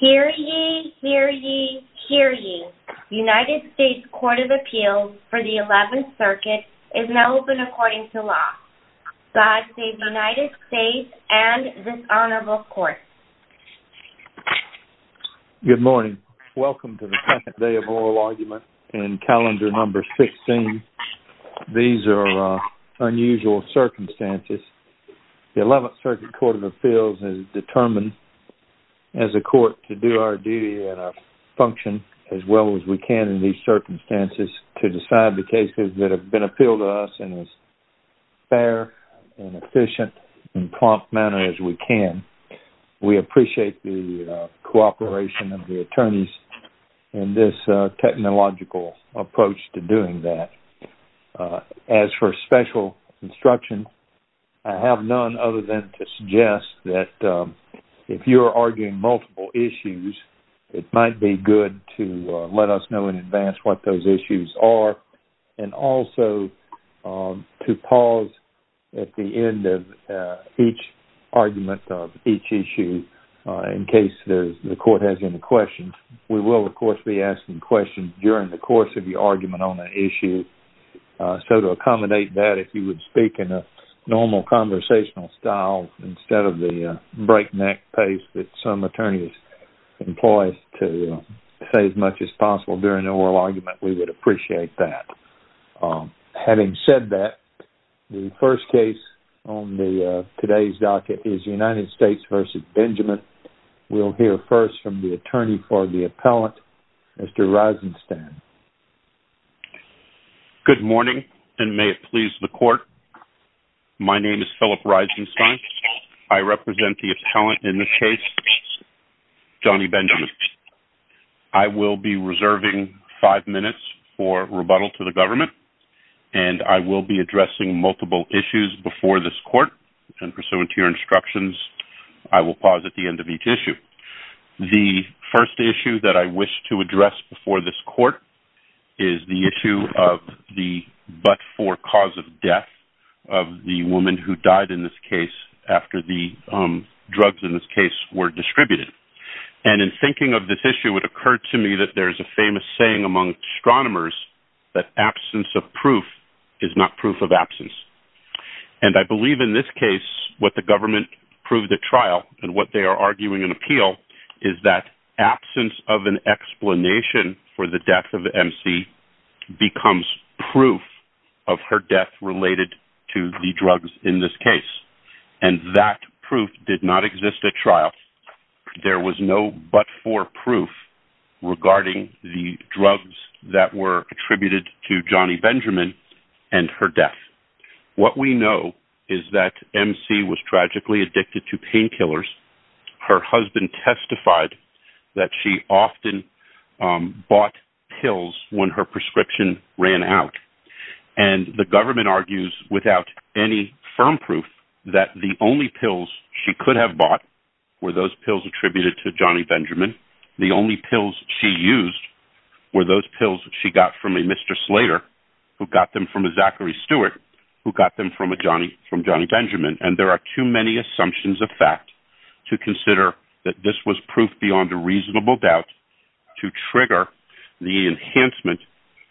Hear ye, hear ye, hear ye. United States Court of Appeals for the 11th Circuit is now open according to law. God save the United States and this honorable court. Good morning. Welcome to the second day of oral argument in calendar number 16. These are unusual circumstances. The 11th Circuit Court of Appeals is determined as a court to do our duty and our function as well as we can in these circumstances to decide the cases that have been appealed to us in as fair and efficient and prompt manner as we can. We appreciate the cooperation of the attorneys in this technological approach to doing that. As for special instruction, I have none other than to suggest that if you're arguing multiple issues, it might be good to let us know in advance what those issues are and also to pause at the end of each argument of each issue in case the court has any questions. We will, of course, be asking questions during the course of your argument on that issue. So to accommodate that, if you would speak in a normal conversational style instead of the breakneck pace that some attorneys employ to say as much as possible during an oral argument, we would appreciate that. Having said that, the first case on today's docket is United States v. Benjamin. We'll hear first from the attorney for the appellant, Mr. Reisenstein. Good morning, and may it please the court. My name is Philip Reisenstein. I represent the appellant in this case, Johnny Benjamin. I will be reserving five minutes for rebuttal to the government, and I will be addressing multiple issues before this court. And pursuant to your instructions, I will pause at the end of each issue. The first issue that I wish to address before this court is the issue of the but-for cause of death of the woman who died in this case after the drugs in this case were distributed. And in thinking of this issue, it occurred to me that there is a famous saying among astronomers that absence of proof is not proof of absence. And I believe in this case what the government proved at trial and what they are arguing in appeal is that absence of an explanation for the death of the emcee becomes proof of her death related to the drugs in this case. And that proof did not exist at trial. There was no but-for proof regarding the drugs that were attributed to Johnny Benjamin and her death. What we know is that emcee was tragically addicted to painkillers. Her husband testified that she often bought pills when her prescription ran out. And the government argues without any firm proof that the only pills she could have bought were those pills attributed to Johnny Benjamin. The only pills she used were those pills she got from a Mr. Slater who got them from a Zachary Stewart who got them from Johnny Benjamin. And there are too many assumptions of fact to consider that this was proof beyond a reasonable doubt to trigger the enhancement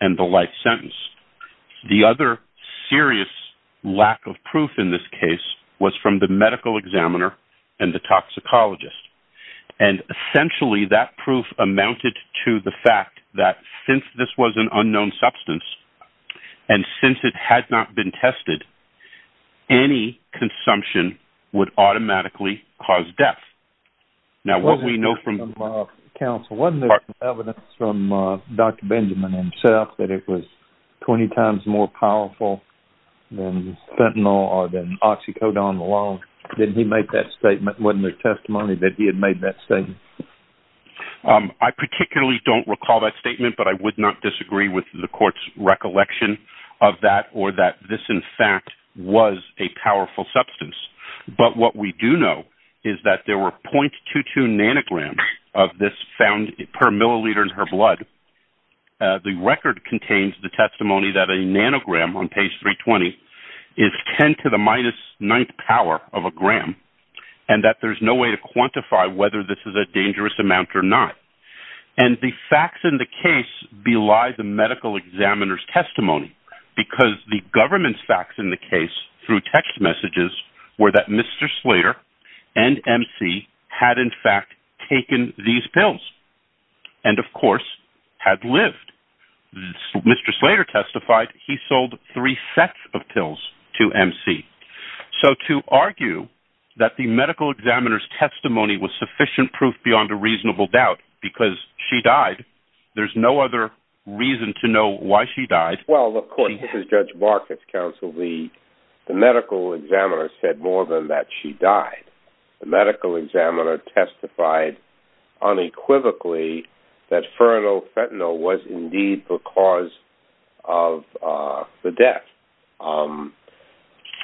and the life sentence. The other serious lack of proof in this case was from the medical examiner and the toxicologist. And essentially that proof amounted to the fact that since this was an unknown substance and since it had not been tested, any consumption would automatically cause death. Now what we know from... Counsel, wasn't there evidence from Dr. Benjamin himself that it was 20 times more powerful than fentanyl or than oxycodone alone? Didn't he make that statement? Wasn't there testimony that he had made that statement? I particularly don't recall that statement, but I would not disagree with the court's recollection of that or that this in fact was a powerful substance. But what we do know is that there were .22 nanograms of this found per milliliter in her blood. The record contains the testimony that a nanogram on page 320 is 10 to the minus ninth power of a gram and that there's no way to quantify whether this is a dangerous amount or not. And the facts in the case belie the medical examiner's testimony because the government's facts in the case through text messages were that Mr. Slater and MC had in fact taken these pills and of course had lived. Mr. Slater testified he sold three sets of pills to MC. So to argue that the medical examiner's testimony was sufficient proof beyond a reasonable doubt because she died, there's no other reason to know why she died. Well, look, Court, this is Judge Marcus, Counsel. The medical examiner said more than that she died. The medical examiner testified unequivocally that fernal fentanyl was indeed the cause of the death.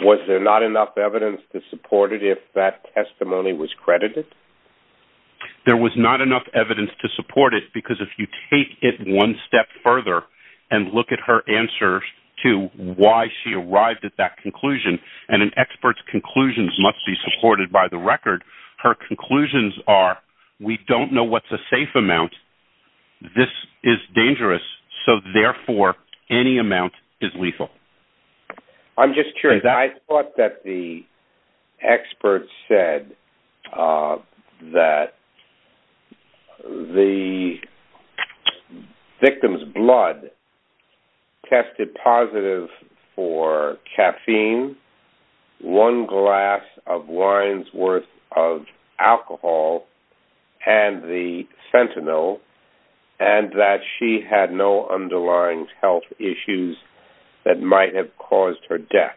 Was there not enough evidence to support it if that testimony was credited? There was not enough evidence to support it because if you take it one step further and look at her answer to why she arrived at that conclusion, and an expert's conclusions must be supported by the record, her conclusions are we don't know what's a safe amount, this is dangerous, so therefore any amount is lethal. I'm just curious. I thought that the expert said that the victim's blood tested positive for caffeine, one glass of wine's worth of alcohol, and the fentanyl, and that she had no underlying health issues that might have caused her death.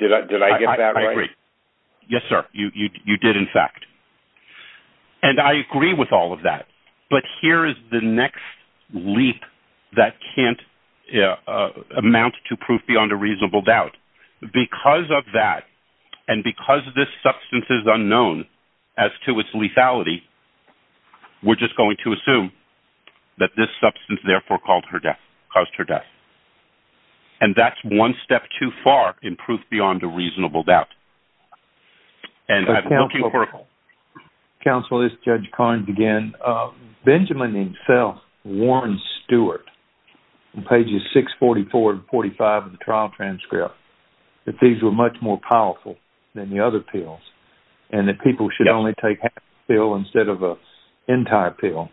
Did I get that right? I agree. Yes, sir. You did, in fact. And I agree with all of that, but here is the next leap that can't amount to proof beyond a reasonable doubt. Because of that and because this substance is unknown as to its lethality, we're just going to assume that this substance, therefore, caused her death. And that's one step too far in proof beyond a reasonable doubt. And I'm looking for... Counsel, this is Judge Carnes again. Benjamin himself warned Stewart in pages 644 and 645 of the trial transcript that these were much more powerful than the other pills and that people should only take half a pill instead of an entire pill.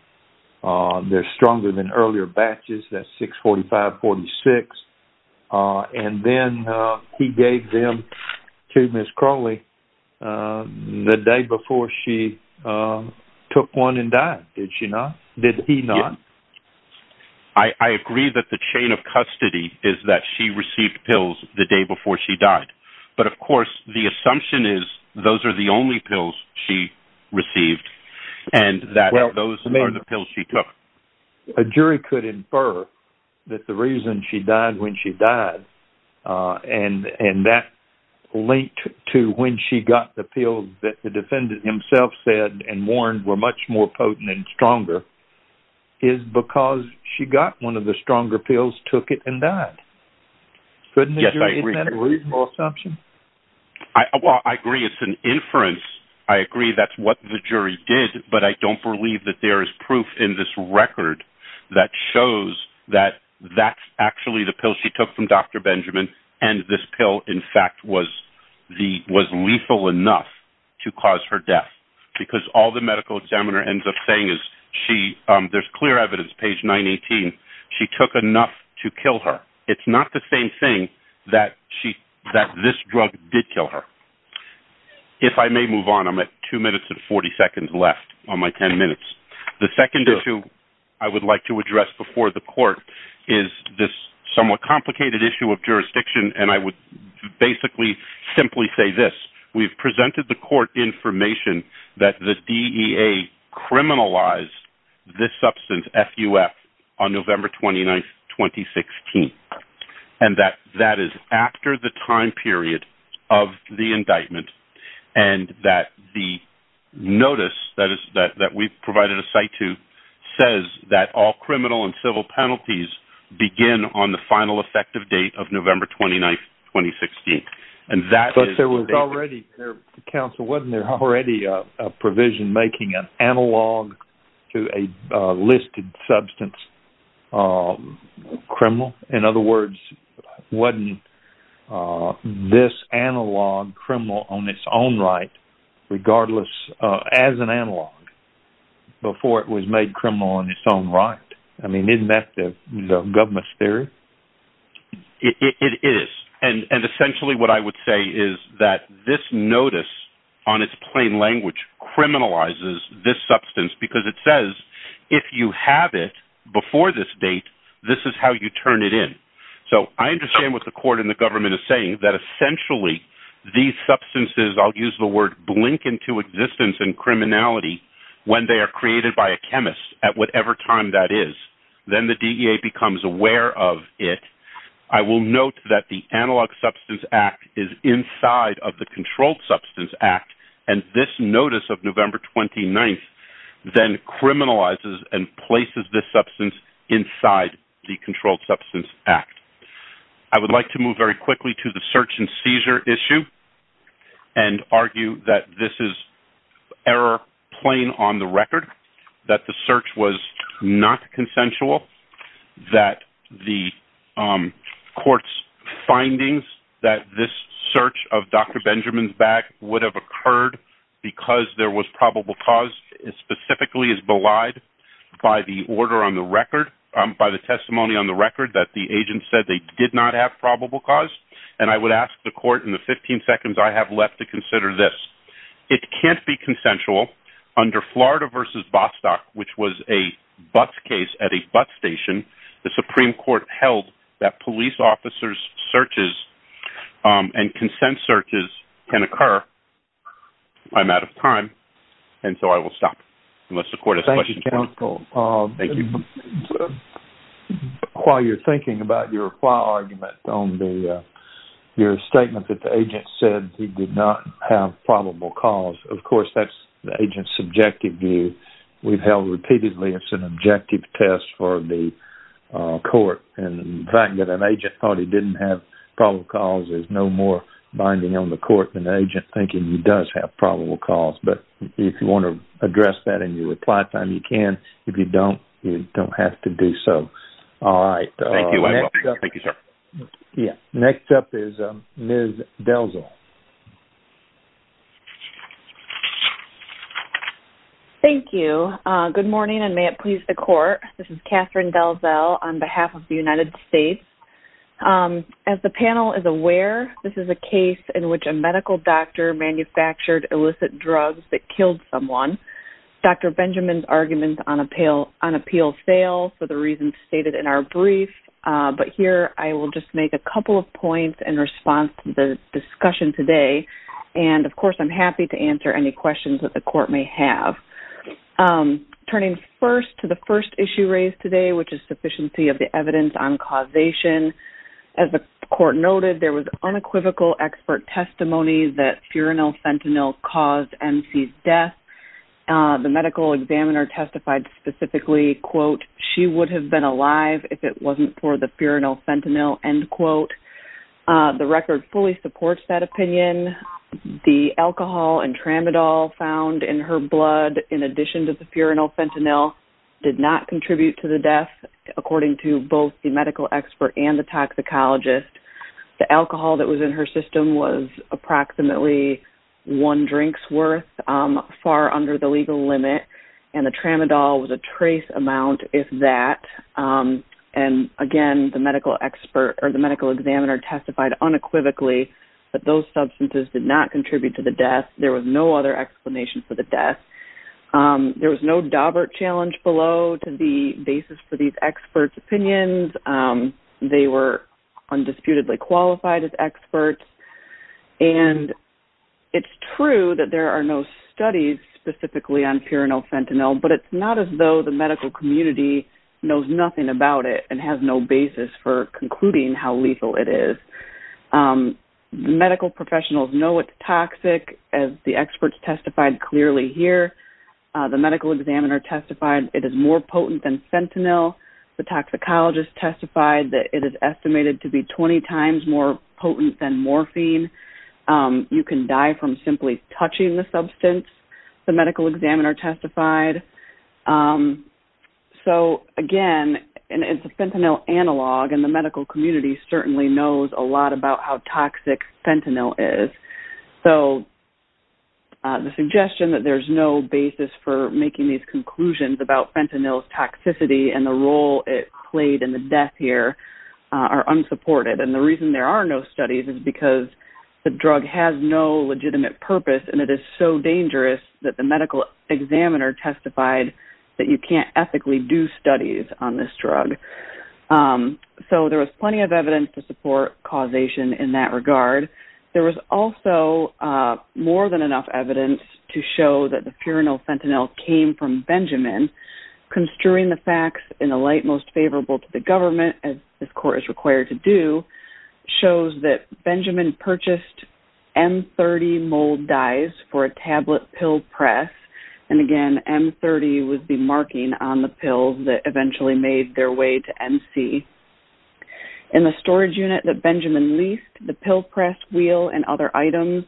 They're stronger than earlier batches. That's 645-46. And then he gave them to Ms. Crowley the day before she took one and died. Did she not? Did he not? I agree that the chain of custody is that she received pills the day before she died. But, of course, the assumption is those are the only pills she received and that those are the pills she took. A jury could infer that the reason she died when she died and that linked to when she got the pills that the defendant himself said and warned were much more potent and stronger is because she got one of the stronger pills, took it, and died. Yes, I agree. Well, I agree it's an inference. I agree that's what the jury did, but I don't believe that there is proof in this record that shows that that's actually the pill she took from Dr. Benjamin and this pill, in fact, was lethal enough to cause her death because all the medical examiner ends up saying is she... There's clear evidence, page 918. She took enough to kill her. It's not the same thing that this drug did kill her. If I may move on, I'm at 2 minutes and 40 seconds left on my 10 minutes. The second issue I would like to address before the court is this somewhat complicated issue of jurisdiction, and I would basically simply say this. We've presented the court information that the DEA criminalized this substance, FUF, on November 29, 2016, and that that is after the time period of the indictment and that the notice that we've provided a site to says that all criminal and civil penalties begin on the final effective date of November 29, 2016, and that is... But there was already... Counsel, wasn't there already a provision in making an analog to a listed substance criminal? In other words, wasn't this analog criminal on its own right, regardless, as an analog, before it was made criminal on its own right? I mean, isn't that the government's theory? It is, and essentially what I would say is that this notice, on its plain language, criminalizes this substance because it says, if you have it before this date, this is how you turn it in. So I understand what the court and the government are saying, that essentially these substances, I'll use the word, blink into existence and criminality when they are created by a chemist at whatever time that is. Then the DEA becomes aware of it. I will note that the Analog Substance Act is inside of the Controlled Substance Act, and this notice of November 29 then criminalizes and places this substance inside the Controlled Substance Act. I would like to move very quickly to the search and seizure issue and argue that this is error plain on the record, that the search was not consensual, that the court's findings that this search of Dr. Benjamin's bag would have occurred because there was probable cause specifically is belied by the testimony on the record that the agent said they did not have probable cause, and I would ask the court in the 15 seconds I have left to consider this. It can't be consensual under Florida v. Bostock, which was a bus case at a bus station. The Supreme Court held that police officers' searches and consent searches can occur. I'm out of time, and so I will stop unless the court has questions. Thank you, counsel. While you're thinking about your file argument on your statement that the agent said he did not have probable cause, of course that's the agent's subjective view. We've held repeatedly it's an objective test for the court, and the fact that an agent thought he didn't have probable cause is no more binding on the court than the agent thinking he does have probable cause. But if you want to address that in your reply time, you can. If you don't, you don't have to do so. Thank you. Next up is Ms. Delzel. Thank you. Good morning, and may it please the court. This is Catherine Delzel on behalf of the United States. As the panel is aware, this is a case in which a medical doctor manufactured illicit drugs that killed someone. Dr. Benjamin's argument on appeal failed for the reasons stated in our brief, but here I will just make a couple of points in response to the discussion today, and of course I'm happy to answer any questions that the court may have. Turning first to the first issue raised today, which is sufficiency of the evidence on causation, as the court noted there was unequivocal expert testimony that furanyl fentanyl caused MC's death. The medical examiner testified specifically, she would have been alive if it wasn't for the furanyl fentanyl. The record fully supports that opinion. The alcohol and tramadol found in her blood, in addition to the furanyl fentanyl, did not contribute to the death, according to both the medical expert and the toxicologist. The alcohol that was in her system was approximately one drink's worth, far under the legal limit, and the tramadol was a trace amount, if that. And again, the medical examiner testified unequivocally that those substances did not contribute to the death. There was no other explanation for the death. There was no Daubert challenge below to the basis for these experts' opinions. They were undisputedly qualified as experts. And it's true that there are no studies specifically on furanyl fentanyl, but it's not as though the medical community knows nothing about it and has no basis for concluding how lethal it is. Medical professionals know it's toxic, as the experts testified clearly here. The medical examiner testified it is more potent than fentanyl. The toxicologist testified that it is estimated to be 20 times more potent than morphine. You can die from simply touching the substance, the medical examiner testified. So again, it's a fentanyl analog, and the medical community certainly knows a lot about how toxic fentanyl is. So the suggestion that there's no basis for making these conclusions about fentanyl's toxicity and the role it played in the death here are unsupported. And the reason there are no studies is because the drug has no legitimate purpose and it is so dangerous that the medical examiner testified that you can't ethically do studies on this drug. So there was plenty of evidence to support causation in that regard. There was also more than enough evidence to show that the furanyl fentanyl came from Benjamin. Construing the facts in a light most favorable to the government, as this court is required to do, shows that Benjamin purchased M30 mold dyes for a tablet pill press. And again, M30 was the marking on the pills that eventually made their way to MC. In the storage unit that Benjamin leased, the pill press wheel and other items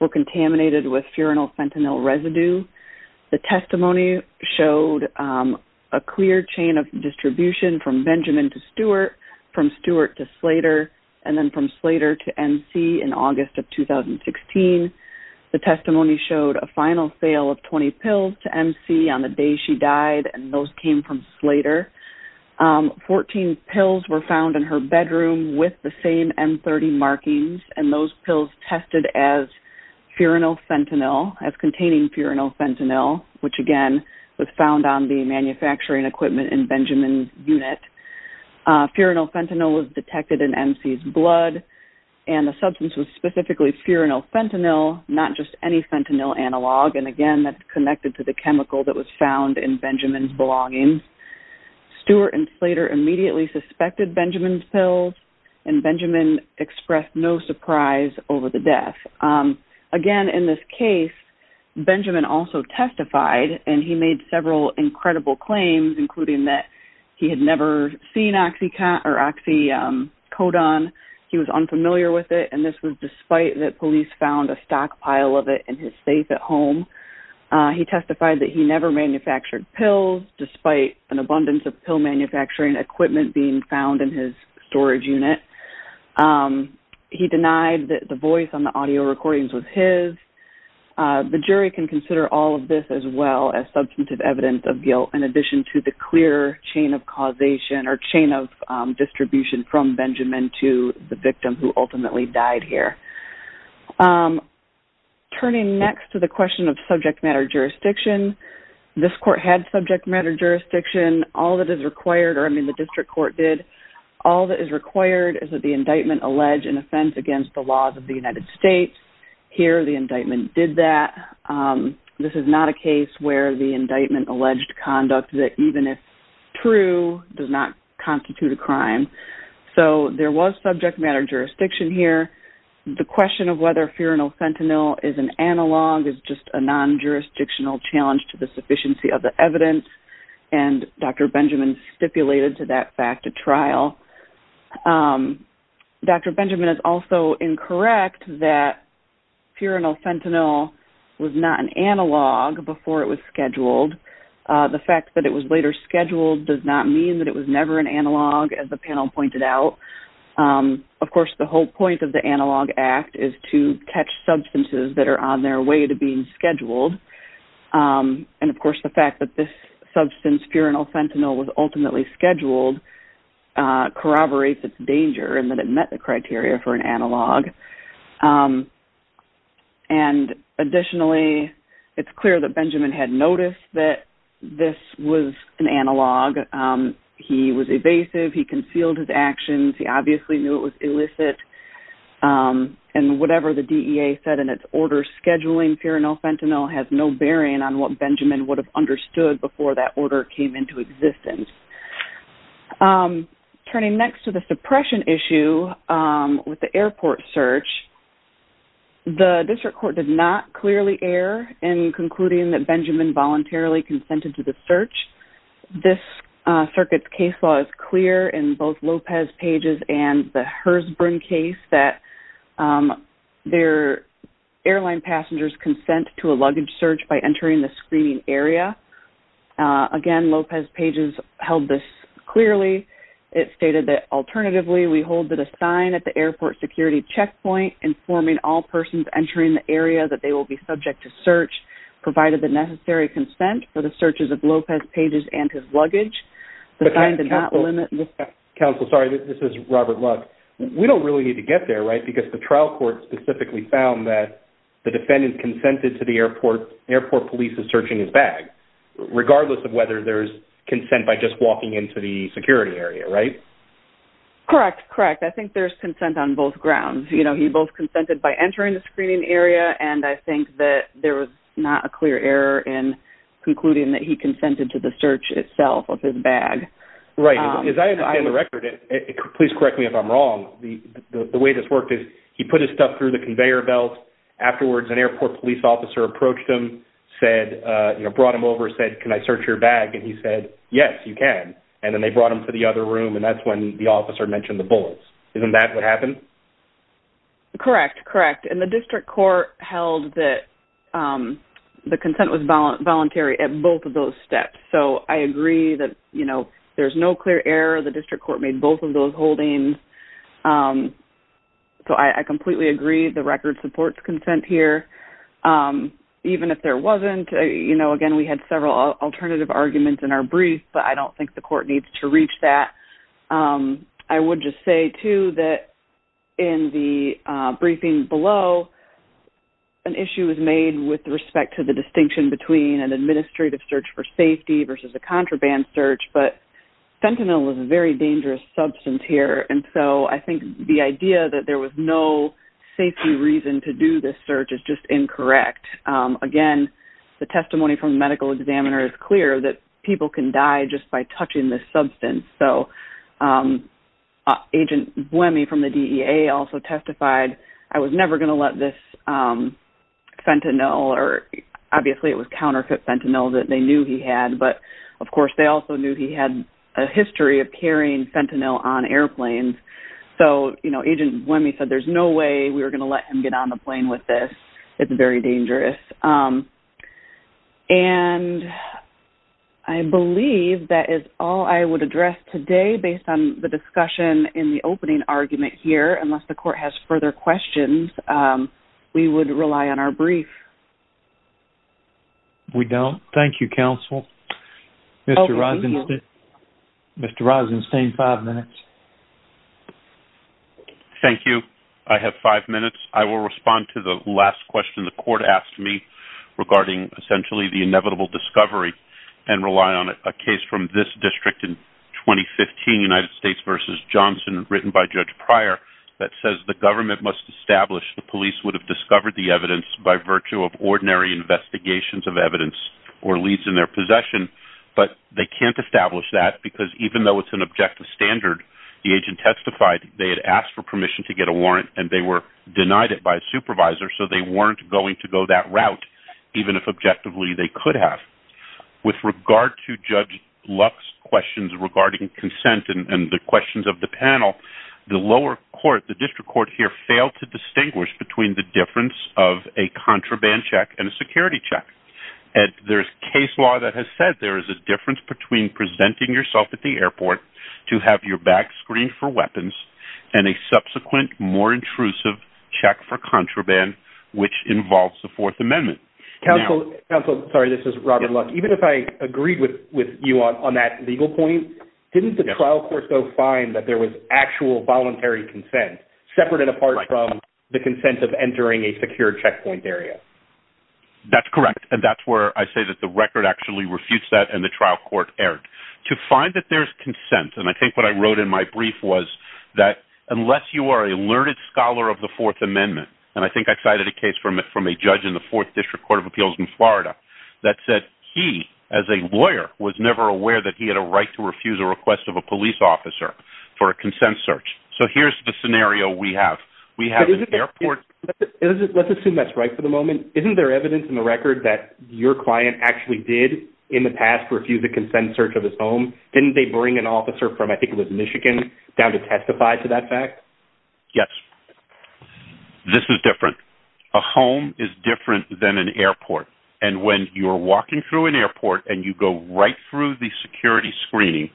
were contaminated with furanyl fentanyl residue. The testimony showed a clear chain of distribution from Benjamin to Stuart, from Stuart to Slater, and then from Slater to MC in August of 2016. The testimony showed a final sale of 20 pills to MC on the day she died, and those came from Slater. Fourteen pills were found in her bedroom with the same M30 markings, and those pills tested as furanyl fentanyl, as containing furanyl fentanyl, which again was found on the manufacturing equipment in Benjamin's unit. Furanyl fentanyl was detected in MC's blood, and the substance was specifically furanyl fentanyl, not just any fentanyl analog. And again, that's connected to the chemical that was found in Benjamin's belongings. Stuart and Slater immediately suspected Benjamin's pills, and Benjamin expressed no surprise over the death. Again, in this case, Benjamin also testified, and he made several incredible claims, including that he had never seen oxycodone, he was unfamiliar with it, and this was despite that police found a stockpile of it in his safe at home. He testified that he never manufactured pills, despite an abundance of pill manufacturing equipment being found in his storage unit. He denied that the voice on the audio recordings was his. The jury can consider all of this as well as substantive evidence of guilt, in addition to the clear chain of causation, or chain of distribution from Benjamin to the victim who ultimately died here. Turning next to the question of subject matter jurisdiction, this court had subject matter jurisdiction. All that is required, or I mean the district court did, all that is required is that the indictment allege an offense against the laws of the United States. Here, the indictment did that. This is not a case where the indictment alleged conduct that even if true, does not constitute a crime. So there was subject matter jurisdiction here. The question of whether furanyl fentanyl is an analog is just a non-jurisdictional challenge to the sufficiency of the evidence, and Dr. Benjamin stipulated to that fact at trial. Dr. Benjamin is also incorrect that furanyl fentanyl was not an analog before it was scheduled. The fact that it was later scheduled does not mean that it was never an analog, as the panel pointed out. Of course, the whole point of the Analog Act is to catch substances that are on their way to being scheduled, and of course the fact that this substance, furanyl fentanyl, was ultimately scheduled corroborates its danger and then met the criteria for an analog. Additionally, it's clear that Benjamin had noticed that this was an analog. He was evasive, he concealed his actions, he obviously knew it was illicit, and whatever the DEA said in its order for scheduling furanyl fentanyl has no bearing on what Benjamin would have understood before that order came into existence. Turning next to the suppression issue with the airport search, the district court did not clearly err in concluding that Benjamin voluntarily consented to the search. This circuit's case law is clear in both Lopez-Page's and the Herzberg case that airline passengers consent to a luggage search by entering the screening area. Again, Lopez-Page's held this clearly. It stated that, alternatively, we hold that a sign at the airport security checkpoint informing all persons entering the area that they will be subject to search provided the necessary consent for the searches of Lopez-Page's and his luggage. Counsel, sorry, this is Robert Luck. We don't really need to get there, right, because the trial court specifically found that the defendant consented to the airport police's search in his bag, regardless of whether there's consent by just walking into the security area, right? Correct, correct. I think there's consent on both grounds. You know, he both consented by entering the screening area, and I think that there was not a clear error in concluding that he consented to the search itself of his bag. Right. As I understand the record, please correct me if I'm wrong, the way this worked is he put his stuff through the conveyor belt. Afterwards, an airport police officer approached him, brought him over, said, can I search your bag, and he said, yes, you can. And then they brought him to the other room, and that's when the officer mentioned the bullets. Isn't that what happened? Correct, correct. And the district court held that the consent was voluntary at both of those steps. So I agree that, you know, there's no clear error. The district court made both of those holdings. So I completely agree the record supports consent here. Even if there wasn't, you know, again, we had several alternative arguments in our brief, but I don't think the court needs to reach that. I would just say too that in the briefing below, an issue was made with respect to the distinction between an administrative search for safety versus a contraband search, but fentanyl is a very dangerous substance here, and so I think the idea that there was no safety reason to do this search is just incorrect. Again, the testimony from the medical examiner is clear that people can die just by touching this substance. So Agent Buemi from the DEA also testified, I was never going to let this fentanyl, or obviously it was counterfeit fentanyl that they knew he had, but of course they also knew he had a history of carrying fentanyl on airplanes. So, you know, Agent Buemi said there's no way we were going to let him get on the plane with this. It's very dangerous. And I believe that is all I would address today based on the discussion in the opening argument here. Unless the court has further questions, we would rely on our brief. We don't. Thank you, counsel. Mr. Rosenstein, five minutes. Thank you. I have five minutes. I will respond to the last question the court asked me. Regarding essentially the inevitable discovery and rely on a case from this district in 2015, United States v. Johnson, written by Judge Pryor, that says the government must establish the police would have discovered the evidence by virtue of ordinary investigations of evidence or leads in their possession, but they can't establish that because even though it's an objective standard, the agent testified they had asked for permission to get a warrant and they were denied it by a supervisor, so they weren't going to go that route, even if objectively they could have. With regard to Judge Luck's questions regarding consent and the questions of the panel, the lower court, the district court here, failed to distinguish between the difference of a contraband check and a security check. There's case law that has said there is a difference between presenting yourself at the airport to have your back screened for weapons and a subsequent, more intrusive check for contraband, which involves the Fourth Amendment. Counsel, sorry, this is Robert Luck. Even if I agreed with you on that legal point, didn't the trial court go find that there was actual voluntary consent, separate and apart from the consent of entering a secure checkpoint area? That's correct, and that's where I say that the record actually refutes that and the trial court erred. To find that there's consent, and I think what I wrote in my brief was that unless you are a learned scholar of the Fourth Amendment, and I think I cited a case from a judge in the Fourth District Court of Appeals in Florida that said he, as a lawyer, was never aware that he had a right to refuse a request of a police officer for a consent search. So here's the scenario we have. We have an airport... Let's assume that's right for the moment. Isn't there evidence in the record that your client actually did in the past refuse a consent search of his own? Didn't they bring an officer from, I think it was Michigan, down to testify to that fact? Yes. This is different. A home is different than an airport. And when you're walking through an airport and you go right through the security screening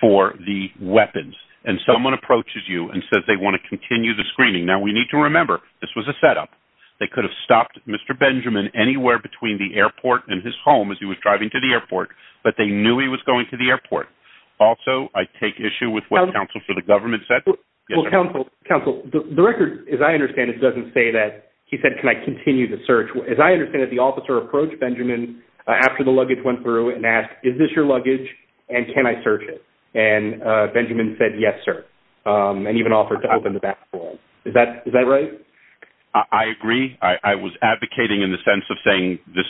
for the weapons, and someone approaches you and says they want to continue the screening... Now, we need to remember, this was a set-up. They could have stopped Mr. Benjamin anywhere between the airport and his home as he was driving to the airport, but they knew he was going to the airport. Also, I take issue with what counsel for the government said... Well, counsel, the record, as I understand it, doesn't say that... He said, can I continue the search? As I understand it, the officer approached Benjamin after the luggage went through and asked, is this your luggage, and can I search it? And Benjamin said, yes, sir, and even offered to open the back door. Is that right? I agree. I was advocating in the sense of saying this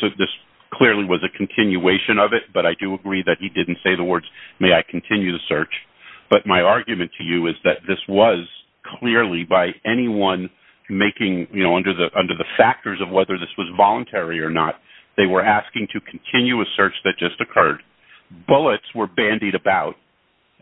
clearly was a continuation of it, but I do agree that he didn't say the words, may I continue the search. But my argument to you is that this was clearly, by anyone making... You know, under the factors of whether this was voluntary or not, they were asking to continue a search that just occurred. Bullets were bandied about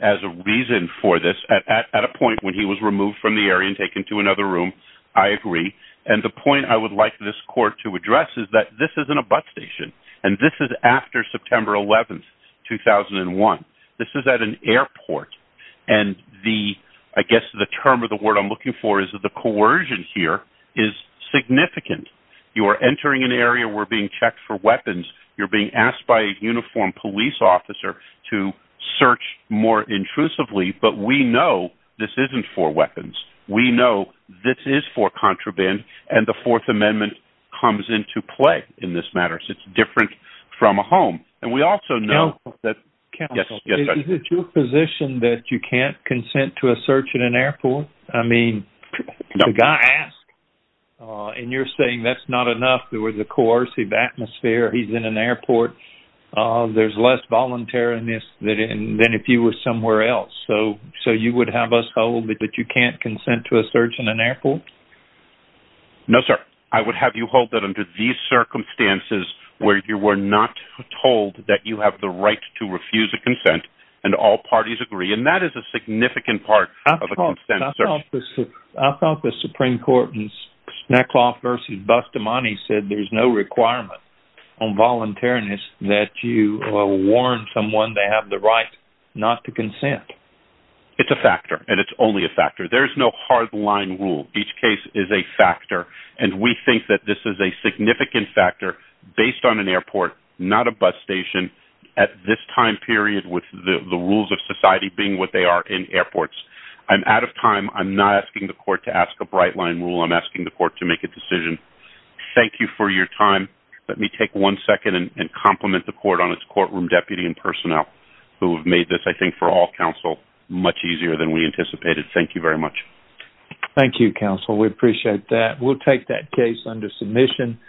as a reason for this at a point when he was removed from the area and taken to another room. I agree. And the point I would like this court to address is that this isn't a bus station, and this is after September 11, 2001. This is at an airport, and the... I guess the term or the word I'm looking for is that the coercion here is significant. You are entering an area where being checked for weapons. You're being asked by a uniformed police officer to search more intrusively, but we know this isn't for weapons. We know this is for contraband, and the Fourth Amendment comes into play in this matter. So it's different from a home. And we also know that... Counsel, is it your position that you can't consent to a search at an airport? I mean, the guy asked, and you're saying that's not enough. There was a coercive atmosphere. He's in an airport. There's less voluntariness than if he was somewhere else. So you would have us hold that you can't consent to a search in an airport? No, sir. I would have you hold that under these circumstances where you were not told that you have the right to refuse a consent, and all parties agree, and that is a significant part of a consent search. I thought the Supreme Court in Snackoff v. Bustamante said there's no requirement on voluntariness that you warn someone they have the right not to consent. It's a factor, and it's only a factor. There's no hard-line rule. Each case is a factor, and we think that this is a significant factor based on an airport, not a bus station, at this time period with the rules of society being what they are in airports. I'm out of time. I'm not asking the court to ask a bright-line rule. I'm asking the court to make a decision. Thank you for your time. Let me take one second and compliment the court on its courtroom deputy and personnel who have made this, I think, for all counsel much easier than we anticipated. Thank you very much. Thank you, counsel. We appreciate that. We'll take that case under submission.